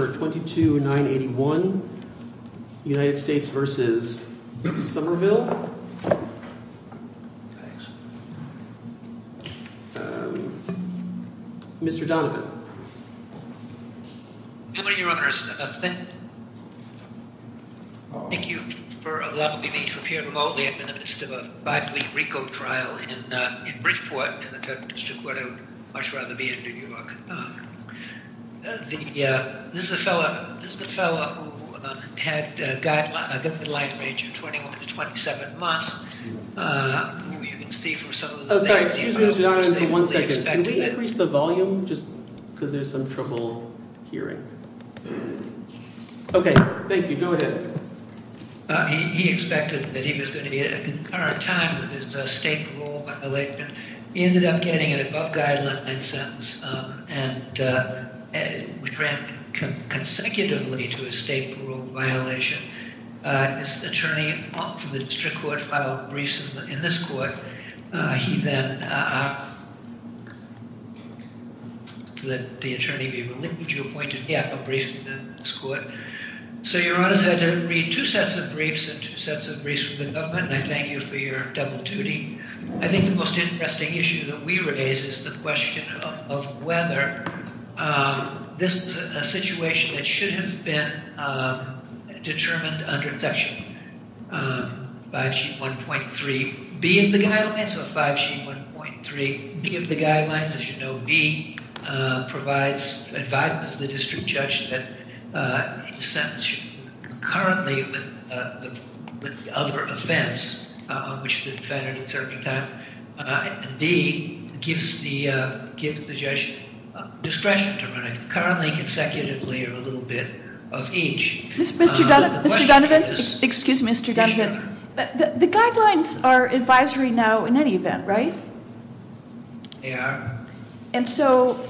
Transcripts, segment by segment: Thank you for allowing me to appear remotely in the midst of a 5-week RICO trial in Bridgeport in the federal district where I would much rather be in New York. This is a fellow who had a guideline range of 21 to 27 months. Can we increase the volume just because there's some trouble hearing? Okay, thank you. Go ahead. He expected that he was going to be at a concurrent time with his state parole violation. He ended up getting an above-guideline sentence and was granted consecutively to a state parole violation. His attorney from the district court filed briefs in this court. He then, to let the attorney be relieved, he appointed a briefs in this court. So your honors had to read two sets of briefs and two sets of briefs from the government, and I thank you for your double duty. I think the most interesting issue that we raise is the question of whether this is a situation that should have been determined under section 5G1.3B of the guidelines. So 5G1.3B of the guidelines, as you know, B provides advice to the district judge that currently with the other offense on which the defendant is serving time, D gives the judge discretion to run a currently consecutively or a little bit of each. So the question is- Mr. Donovan, excuse me, Mr. Donovan. The guidelines are advisory now in any event, right? Yeah. And so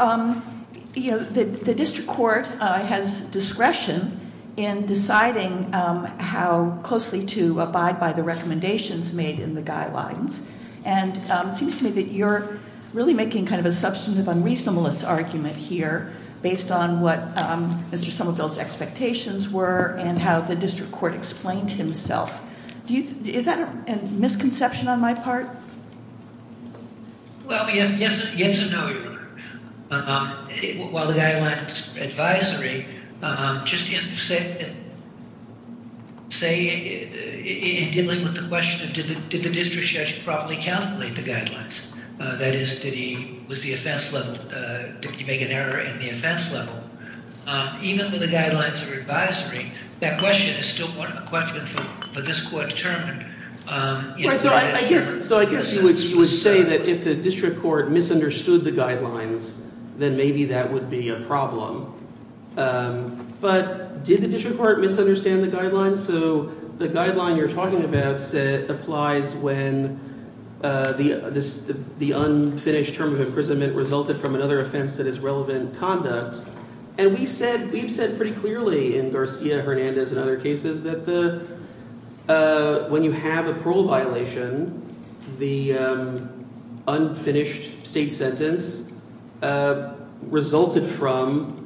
the district court has discretion in deciding how closely to abide by the recommendations made in the guidelines. And it seems to me that you're really making kind of a substantive unreasonableness argument here based on what Mr. Somerville's expectations were and how the district court explained himself. Is that a misconception on my part? Well, yes and no, Your Honor. While the guidelines advisory, just in dealing with the question of did the district judge properly calculate the guidelines? That is, did he make an error in the offense level? Even for the guidelines of advisory, that question is still a question for this court to determine. So I guess you would say that if the district court misunderstood the guidelines, then maybe that would be a problem. But did the district court misunderstand the guidelines? So the guideline you're talking about applies when the unfinished term of imprisonment resulted from another offense that is relevant conduct. And we've said pretty clearly in Garcia-Hernandez and other cases that when you have a parole violation, the unfinished state sentence resulted from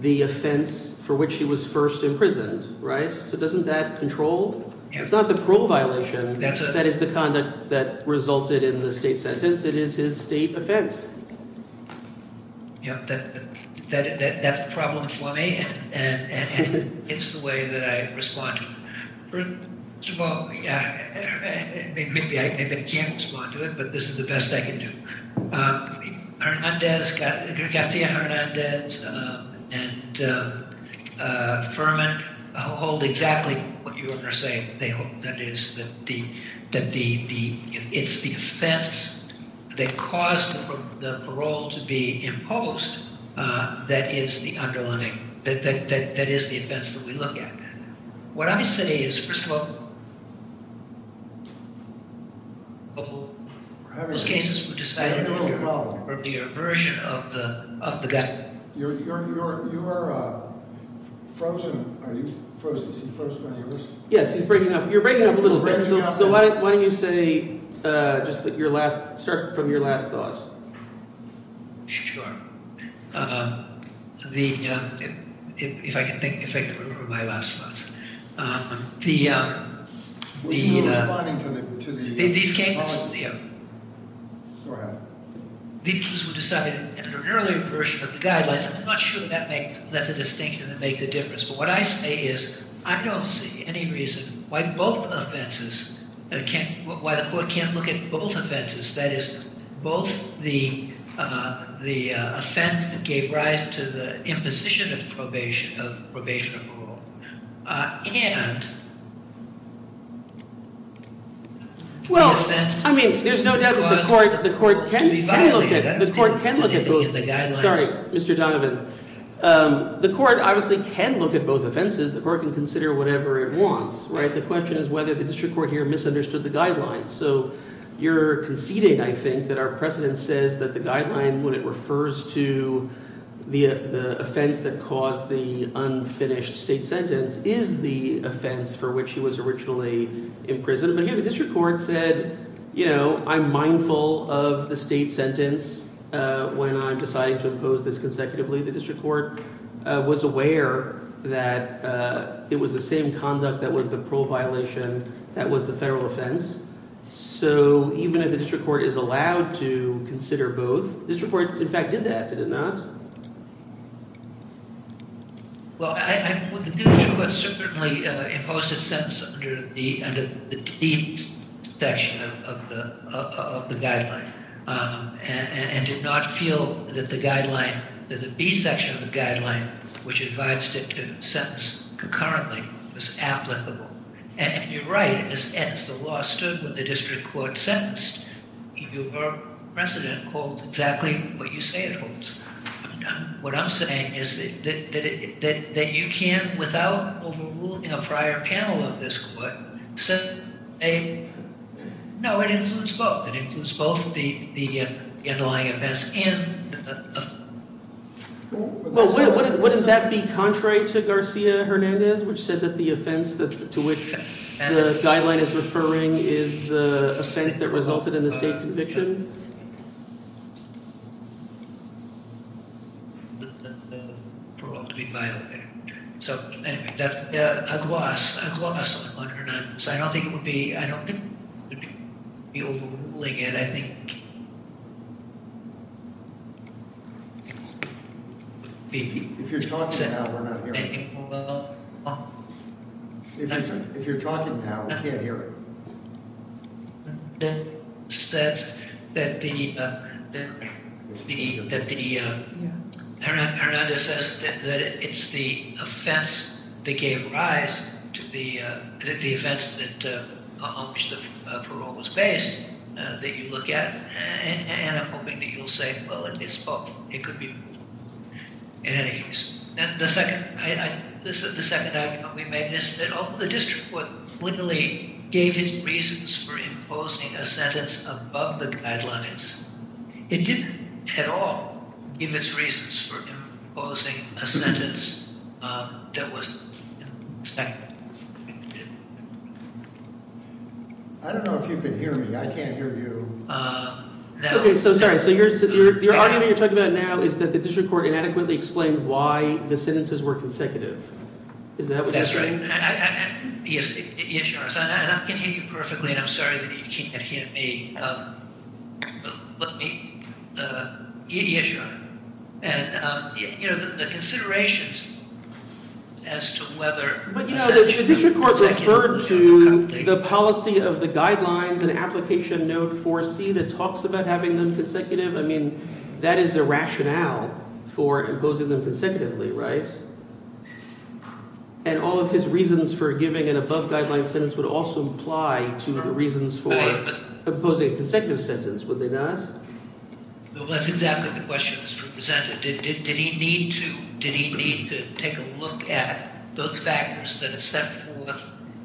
the offense for which he was first imprisoned, right? So doesn't that control? It's not the parole violation that is the conduct that resulted in the state sentence. It is his state offense. Yeah, that's the problem for me, and it's the way that I respond to it. First of all, yeah, maybe I can't respond to it, but this is the best I can do. Garcia-Hernandez and Furman hold exactly what you were going to say. That is, that the, it's the offense that caused the parole to be imposed that is the underlying, that is the offense that we look at. What I say is, first of all, those cases were decided with the aversion of the guy. You are frozen. Are you frozen? Is he frozen on your list? Yes, he's breaking up. You're breaking up a little bit. So why don't you say, just your last, start from your last thoughts. Sure. The, if I can think, if I can remember my last thoughts. Were you responding to the apology? These cases, yeah. Go ahead. These cases were decided under an earlier version of the guidelines. I'm not sure that makes, that's a distinction that makes a difference. But what I say is, I don't see any reason why both offenses, why the court can't look at both offenses. That is, both the offense that gave rise to the imposition of probation of parole and the offense that caused the parole to be violated. The court can look at both. Sorry, Mr. Donovan. The court obviously can look at both offenses. The court can consider whatever it wants, right? So you're conceding, I think, that our precedent says that the guideline when it refers to the offense that caused the unfinished state sentence is the offense for which he was originally in prison. But here the district court said, you know, I'm mindful of the state sentence when I'm deciding to impose this consecutively. The district court was aware that it was the same conduct that was the parole violation that was the federal offense. So even if the district court is allowed to consider both, the district court, in fact, did that, did it not? Well, the district court certainly imposed a sentence under the T section of the guideline and did not feel that the guideline, that the B section of the guideline, which advised it to sentence concurrently, was applicable. And you're right, as the law stood when the district court sentenced, your precedent holds exactly what you say it holds. What I'm saying is that you can, without overruling a prior panel of this court, say, no, it includes both. It includes both the underlying offense and the- Well, wouldn't that be contrary to Garcia Hernandez, which said that the offense to which the guideline is referring is the offense that resulted in the state conviction? The parole to be violated. So anyway, that's as was, as was under that. So I don't think it would be, I don't think it would be overruling it. I think- If you're talking now, we're not hearing it. If you're talking now, we can't hear it. That says that the, that the, that the, Hernandez says that it's the offense that gave rise to the, that the offense that, on which the parole was based, that you look at, and I'm hoping that you'll say, well, it's both. It could be both. In any case. And the second, the second argument we made is that although the district court clearly gave its reasons for imposing a sentence above the guidelines, it didn't at all give its reasons for imposing a sentence that was- I don't know if you can hear me. I can't hear you. Okay, so sorry. So your argument you're talking about now is that the district court inadequately explained why the sentences were consecutive. Is that what you're saying? That's right. Yes, your honor. And I can hear you perfectly, and I'm sorry that you can't hear me. But let me- Yes, your honor. And, you know, the considerations as to whether- But, you know, the district court referred to the policy of the guidelines and application note 4C that talks about having them consecutive. I mean, that is a rationale for imposing them consecutively, right? And all of his reasons for giving an above-guideline sentence would also apply to the reasons for imposing a consecutive sentence, would they not? Well, that's exactly the question that was presented. Did he need to take a look at those factors that are set forth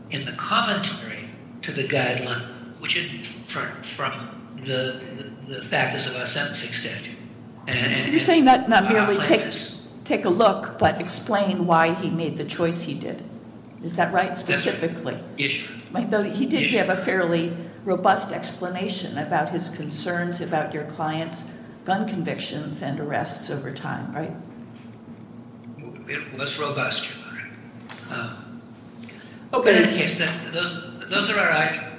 in the commentary to the guideline, which are different from the factors of our sentencing statute? You're saying not merely take a look, but explain why he made the choice he did. Is that right, specifically? Yes, your honor. He did give a fairly robust explanation about his concerns about your client's gun convictions and arrests over time, right? Well, that's robust, your honor. In any case, those are our arguments.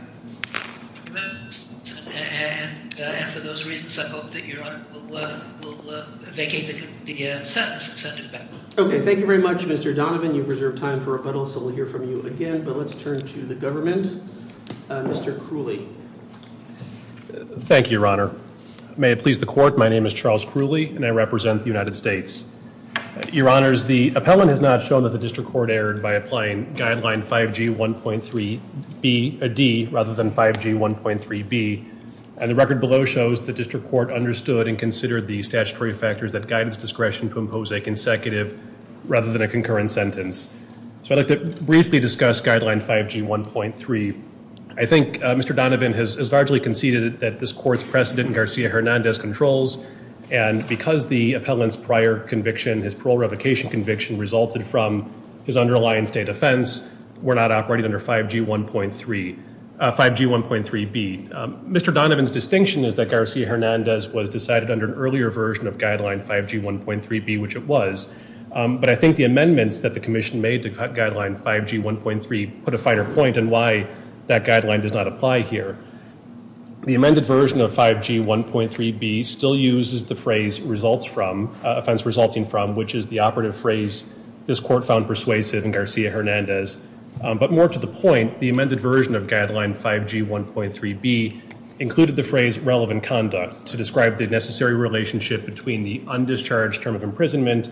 And for those reasons, I hope that your honor will vacate the sentence and send it back. Okay, thank you very much, Mr. Donovan. You've reserved time for rebuttal, so we'll hear from you again. But let's turn to the government. Mr. Crooley. Thank you, your honor. May it please the court, my name is Charles Crooley, and I represent the United States. Your honors, the appellant has not shown that the district court erred by applying guideline 5G1.3D rather than 5G1.3B. And the record below shows the district court understood and considered the statutory factors that guidance discretion compose a consecutive rather than a concurrent sentence. So I'd like to briefly discuss guideline 5G1.3. I think Mr. Donovan has largely conceded that this court's precedent in Garcia-Hernandez controls, and because the appellant's prior conviction, his parole revocation conviction, resulted from his underlying state offense, were not operating under 5G1.3, 5G1.3B. Mr. Donovan's distinction is that Garcia-Hernandez was decided under an earlier version of guideline 5G1.3B, which it was. But I think the amendments that the commission made to guideline 5G1.3 put a finer point in why that guideline does not apply here. The amended version of 5G1.3B still uses the phrase results from, offense resulting from, which is the operative phrase this court found persuasive in Garcia-Hernandez. But more to the point, the amended version of guideline 5G1.3B included the phrase relevant conduct to describe the necessary relationship between the undischarged term of imprisonment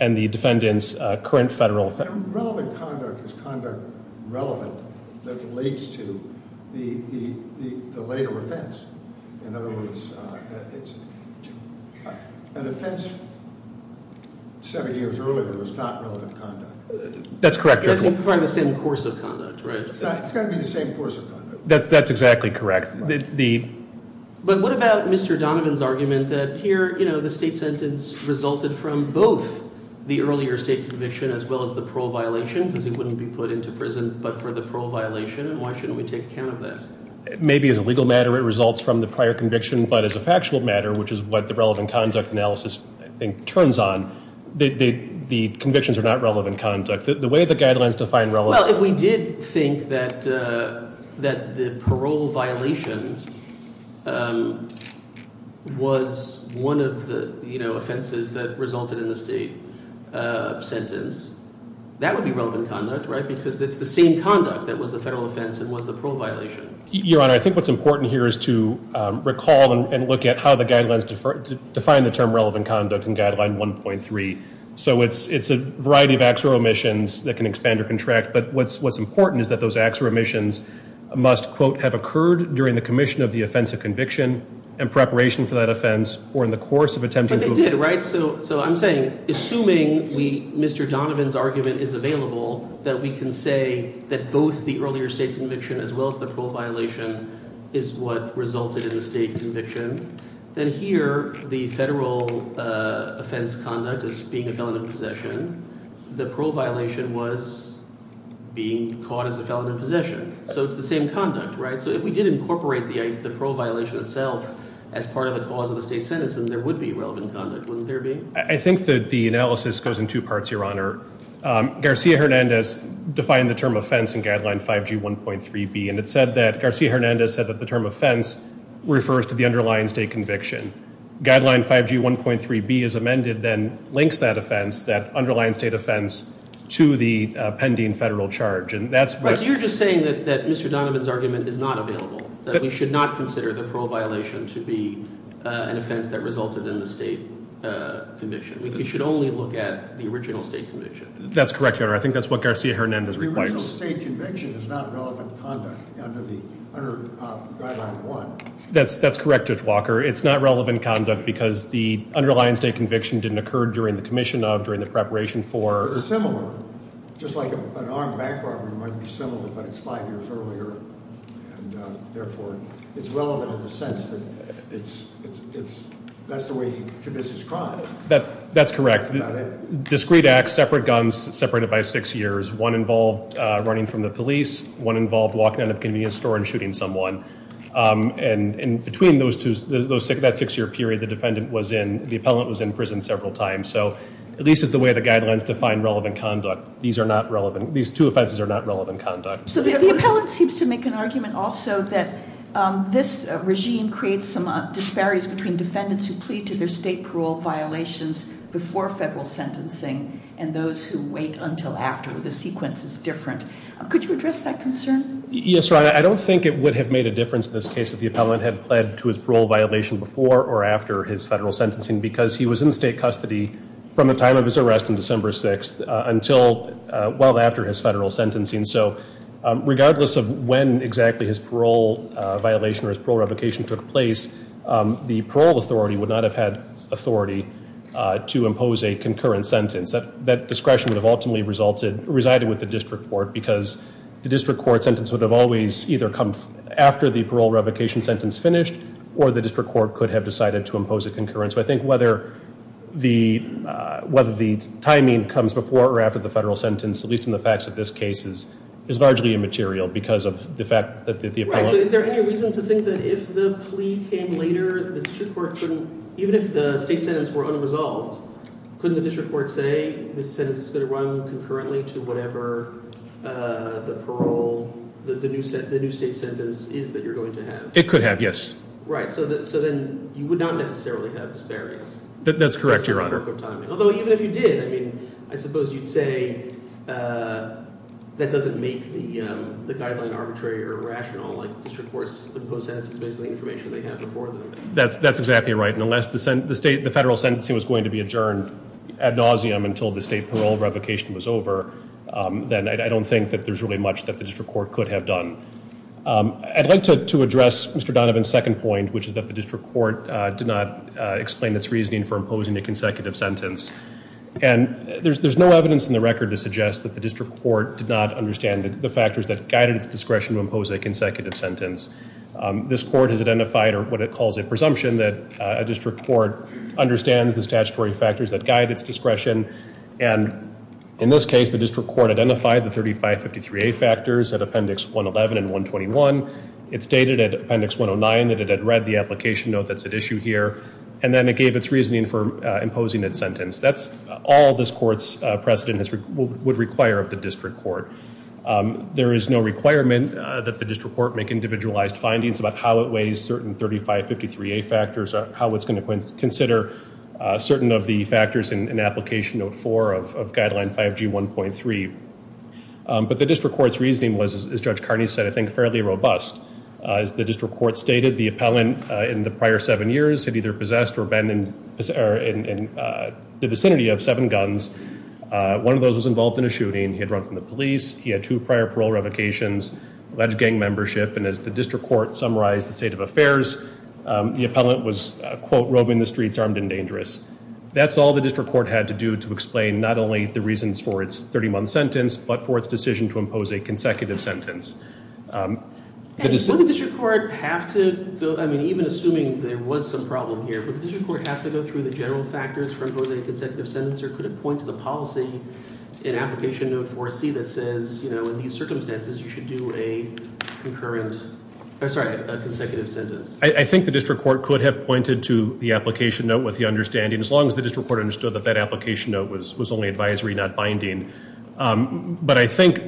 and the defendant's current federal offense. How relevant conduct is conduct relevant that relates to the later offense? In other words, an offense seven years earlier was not relevant conduct. That's correct, Your Honor. It has to be part of the same course of conduct, right? It's got to be the same course of conduct. That's exactly correct. But what about Mr. Donovan's argument that here the state sentence resulted from both the earlier state conviction as well as the parole violation because he wouldn't be put into prison but for the parole violation, and why shouldn't we take account of that? Maybe as a legal matter it results from the prior conviction, but as a factual matter, which is what the relevant conduct analysis turns on, the convictions are not relevant conduct. Well, if we did think that the parole violation was one of the offenses that resulted in the state sentence, that would be relevant conduct, right? Because it's the same conduct that was the federal offense that was the parole violation. Your Honor, I think what's important here is to recall and look at how the guidelines define the term relevant conduct in guideline 1.3. So it's a variety of acts or omissions that can expand or contract, but what's important is that those acts or omissions must, quote, have occurred during the commission of the offense of conviction and preparation for that offense or in the course of attempting to- But they did, right? So I'm saying, assuming Mr. Donovan's argument is available, that we can say that both the earlier state conviction as well as the parole violation is what resulted in the state conviction. Then here, the federal offense conduct as being a felon in possession, the parole violation was being caught as a felon in possession. So it's the same conduct, right? So if we did incorporate the parole violation itself as part of the cause of the state sentence, then there would be relevant conduct, wouldn't there be? I think that the analysis goes in two parts, Your Honor. Garcia-Hernandez defined the term offense in guideline 5G1.3b, and Garcia-Hernandez said that the term offense refers to the underlying state conviction. Guideline 5G1.3b is amended, then links that offense, that underlying state offense, to the pending federal charge. Right, so you're just saying that Mr. Donovan's argument is not available, that we should not consider the parole violation to be an offense that resulted in the state conviction. We should only look at the original state conviction. That's correct, Your Honor. I think that's what Garcia-Hernandez requires. The original state conviction is not relevant conduct under guideline 1. That's correct, Judge Walker. It's not relevant conduct because the underlying state conviction didn't occur during the commission of, during the preparation for. But it's similar. Just like an armed back robbery might be similar, but it's five years earlier, and therefore it's relevant in the sense that that's the way he commits his crime. That's correct. Discrete acts, separate guns, separated by six years. One involved running from the police. One involved walking out of a convenience store and shooting someone. And between those two, that six-year period the defendant was in, the appellant was in prison several times. So at least it's the way the guidelines define relevant conduct. These are not relevant. These two offenses are not relevant conduct. So the appellant seems to make an argument also that this regime creates some disparities between Could you address that concern? Yes, Your Honor. I don't think it would have made a difference in this case if the appellant had pled to his parole violation before or after his federal sentencing because he was in state custody from the time of his arrest on December 6th until well after his federal sentencing. So regardless of when exactly his parole violation or his parole revocation took place, the parole authority would not have had authority to impose a concurrent sentence. That discretion would have ultimately resided with the district court because the district court sentence would have always either come after the parole revocation sentence finished or the district court could have decided to impose a concurrent. So I think whether the timing comes before or after the federal sentence, at least in the facts of this case, is largely immaterial because of the fact that the appellant Right. So is there any reason to think that if the plea came later, even if the state sentence were unresolved, couldn't the district court say, this sentence is going to run concurrently to whatever the parole, the new state sentence is that you're going to have? It could have, yes. Right. So then you would not necessarily have disparities. That's correct, Your Honor. Although even if you did, I mean, I suppose you'd say that doesn't make the guideline arbitrary or rational. District courts impose sentences based on the information they have before them. That's exactly right. And unless the federal sentencing was going to be adjourned ad nauseum until the state parole revocation was over, then I don't think that there's really much that the district court could have done. I'd like to address Mr. Donovan's second point, which is that the district court did not explain its reasoning for imposing a consecutive sentence. And there's no evidence in the record to suggest that the district court did not understand the factors that guided its discretion to impose a consecutive sentence. This court has identified what it calls a presumption that a district court understands the statutory factors that guide its discretion. And in this case, the district court identified the 3553A factors at Appendix 111 and 121. It stated at Appendix 109 that it had read the application note that's at issue here, and then it gave its reasoning for imposing its sentence. That's all this court's precedent would require of the district court. There is no requirement that the district court make individualized findings about how it weighs certain 3553A factors or how it's going to consider certain of the factors in Application Note 4 of Guideline 5G1.3. But the district court's reasoning was, as Judge Carney said, I think fairly robust. As the district court stated, the appellant in the prior seven years had either possessed or been in the vicinity of seven guns. One of those was involved in a shooting. He had run from the police. He had two prior parole revocations, alleged gang membership. And as the district court summarized the state of affairs, the appellant was, quote, roving the streets armed and dangerous. That's all the district court had to do to explain not only the reasons for its 30-month sentence, but for its decision to impose a consecutive sentence. And would the district court have to, I mean, even assuming there was some problem here, would the district court have to go through the general factors for imposing a consecutive sentence, or could it point to the policy in Application Note 4C that says, you know, in these circumstances, you should do a consecutive sentence? I think the district court could have pointed to the application note with the understanding, as long as the district court understood that that application note was only advisory, not binding. But I think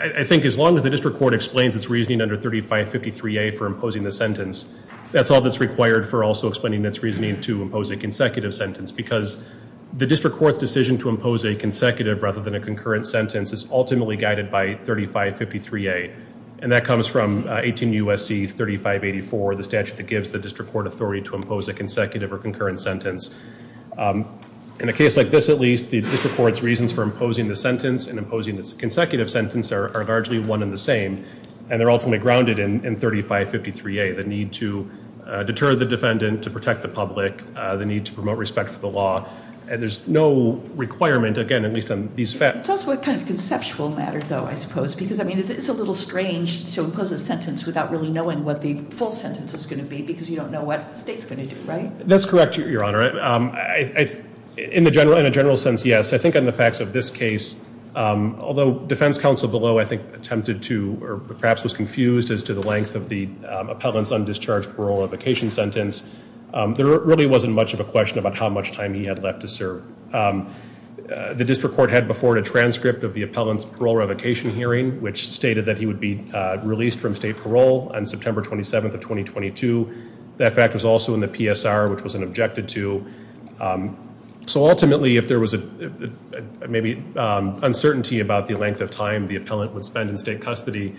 as long as the district court explains its reasoning under 3553A for imposing the sentence, that's all that's required for also explaining its reasoning to impose a consecutive sentence because the district court's decision to impose a consecutive rather than a concurrent sentence is ultimately guided by 3553A. And that comes from 18 U.S.C. 3584, the statute that gives the district court authority to impose a consecutive or concurrent sentence. In a case like this, at least, the district court's reasons for imposing the sentence and imposing its consecutive sentence are largely one and the same, and they're ultimately grounded in 3553A, the need to deter the defendant to protect the public, the need to promote respect for the law. And there's no requirement, again, at least on these facts. It's also a kind of conceptual matter, though, I suppose, because, I mean, it's a little strange to impose a sentence without really knowing what the full sentence is going to be because you don't know what the state's going to do, right? That's correct, Your Honor. In a general sense, yes. I think on the facts of this case, although defense counsel below, I think, attempted to or perhaps was confused as to the length of the appellant's undischarged parole or vacation sentence, there really wasn't much of a question about how much time he had left to serve. The district court had before it a transcript of the appellant's parole revocation hearing, which stated that he would be released from state parole on September 27th of 2022. That fact was also in the PSR, which was an objected to. So ultimately, if there was maybe uncertainty about the length of time the appellant would spend in state custody,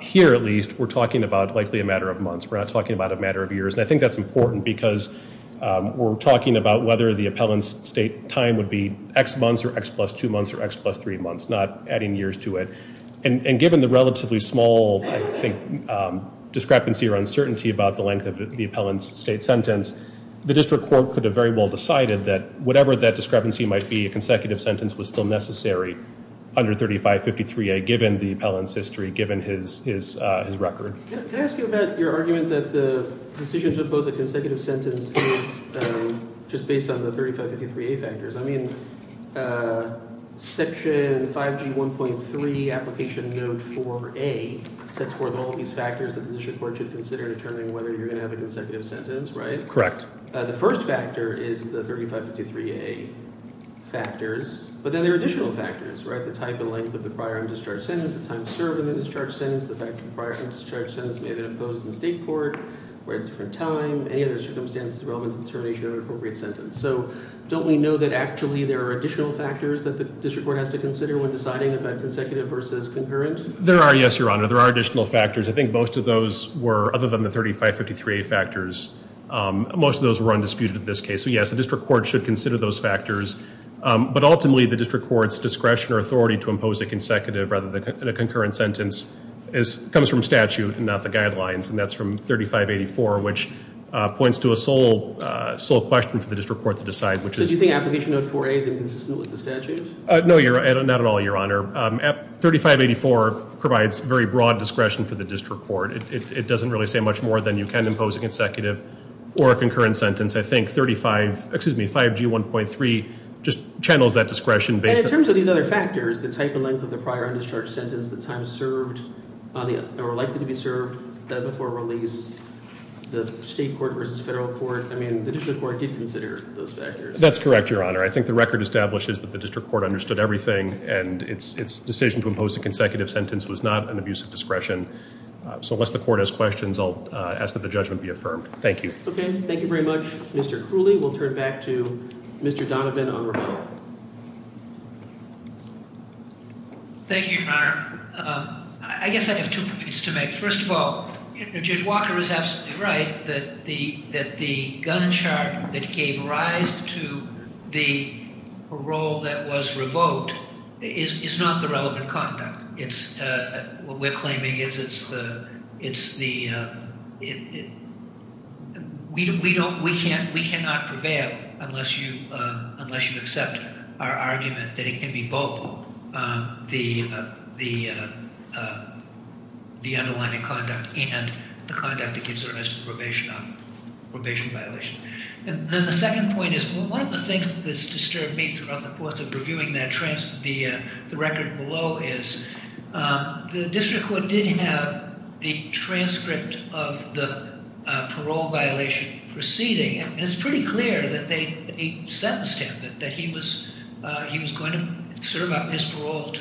here, at least, we're talking about likely a matter of months. We're not talking about a matter of years. And I think that's important because we're talking about whether the appellant's state time would be X months or X plus two months or X plus three months, not adding years to it. And given the relatively small, I think, discrepancy or uncertainty about the length of the appellant's state sentence, the district court could have very well decided that whatever that discrepancy might be, a consecutive sentence was still necessary under 3553A, given the appellant's history, given his record. Can I ask you about your argument that the decision to impose a consecutive sentence is just based on the 3553A factors? I mean, Section 5G 1.3 Application Note 4A sets forth all of these factors that the district court should consider in determining whether you're going to have a consecutive sentence, right? Correct. The first factor is the 3553A factors. But then there are additional factors, right, the type and length of the prior undischarged sentence, the time served in the discharged sentence, the fact that the prior undischarged sentence may have been imposed in state court, or at a different time, any other circumstances relevant to the determination of an appropriate sentence. So don't we know that actually there are additional factors that the district court has to consider when deciding about consecutive versus concurrent? There are, yes, Your Honor. There are additional factors. I think most of those were, other than the 3553A factors, most of those were undisputed in this case. So, yes, the district court should consider those factors. But ultimately, the district court's discretion or authority to impose a consecutive rather than a concurrent sentence comes from statute and not the guidelines. And that's from 3584, which points to a sole question for the district court to decide. So do you think Application Note 4A is inconsistent with the statute? No, Your Honor, not at all, Your Honor. 3584 provides very broad discretion for the district court. It doesn't really say much more than you can impose a consecutive or a concurrent sentence. I think 5G1.3 just channels that discretion based on- And in terms of these other factors, the type and length of the prior undischarged sentence, the time served or likely to be served, that before release, the state court versus federal court, I mean, the district court did consider those factors. That's correct, Your Honor. I think the record establishes that the district court understood everything, and its decision to impose a consecutive sentence was not an abuse of discretion. So unless the court has questions, I'll ask that the judgment be affirmed. Thank you. Okay, thank you very much, Mr. Cooley. We'll turn back to Mr. Donovan on rebuttal. Thank you, Your Honor. I guess I have two points to make. First of all, Judge Walker is absolutely right that the gun charge that gave rise to the parole that was revoked is not the relevant conduct. What we're claiming is we cannot prevail unless you accept our argument that it can be both the underlying conduct and the conduct that gives rise to probation violation. And then the second point is, one of the things that's disturbed me throughout the course of reviewing the record below is, the district court did have the transcript of the parole violation proceeding, and it's pretty clear that they sentenced him, that he was going to serve up his parole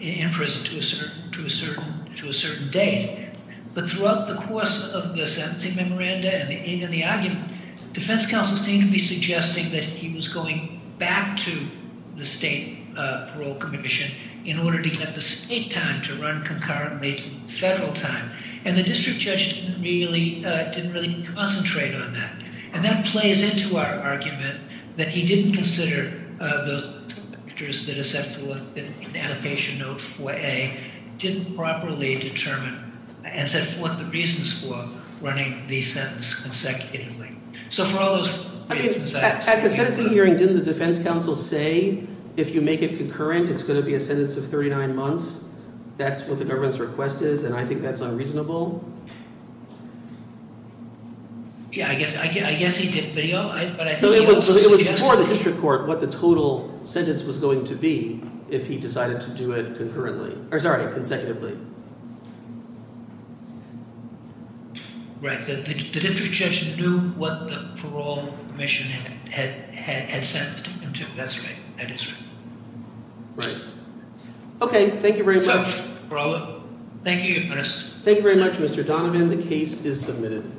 in prison to a certain date. But throughout the course of the sentencing memoranda and the argument, defense counsel seemed to be suggesting that he was going back to the state parole commission in order to get the state time to run concurrently to federal time. And the district judge didn't really concentrate on that. And that plays into our argument that he didn't consider the factors that are set forth in adaptation note 4A, didn't properly determine and set forth the reasons for running the sentence consecutively. So for all those reasons, I— At the sentencing hearing, didn't the defense counsel say, if you make it concurrent, it's going to be a sentence of 39 months? That's what the government's request is, and I think that's unreasonable? Yeah, I guess he did video, but I think he was— So it was before the district court what the total sentence was going to be if he decided to do it concurrently. Or sorry, consecutively. Right. The district judge knew what the parole commission had sentenced him to. That's right. That is right. Right. Okay. Thank you very much. Thank you. Thank you very much, Mr. Donovan. The case is submitted.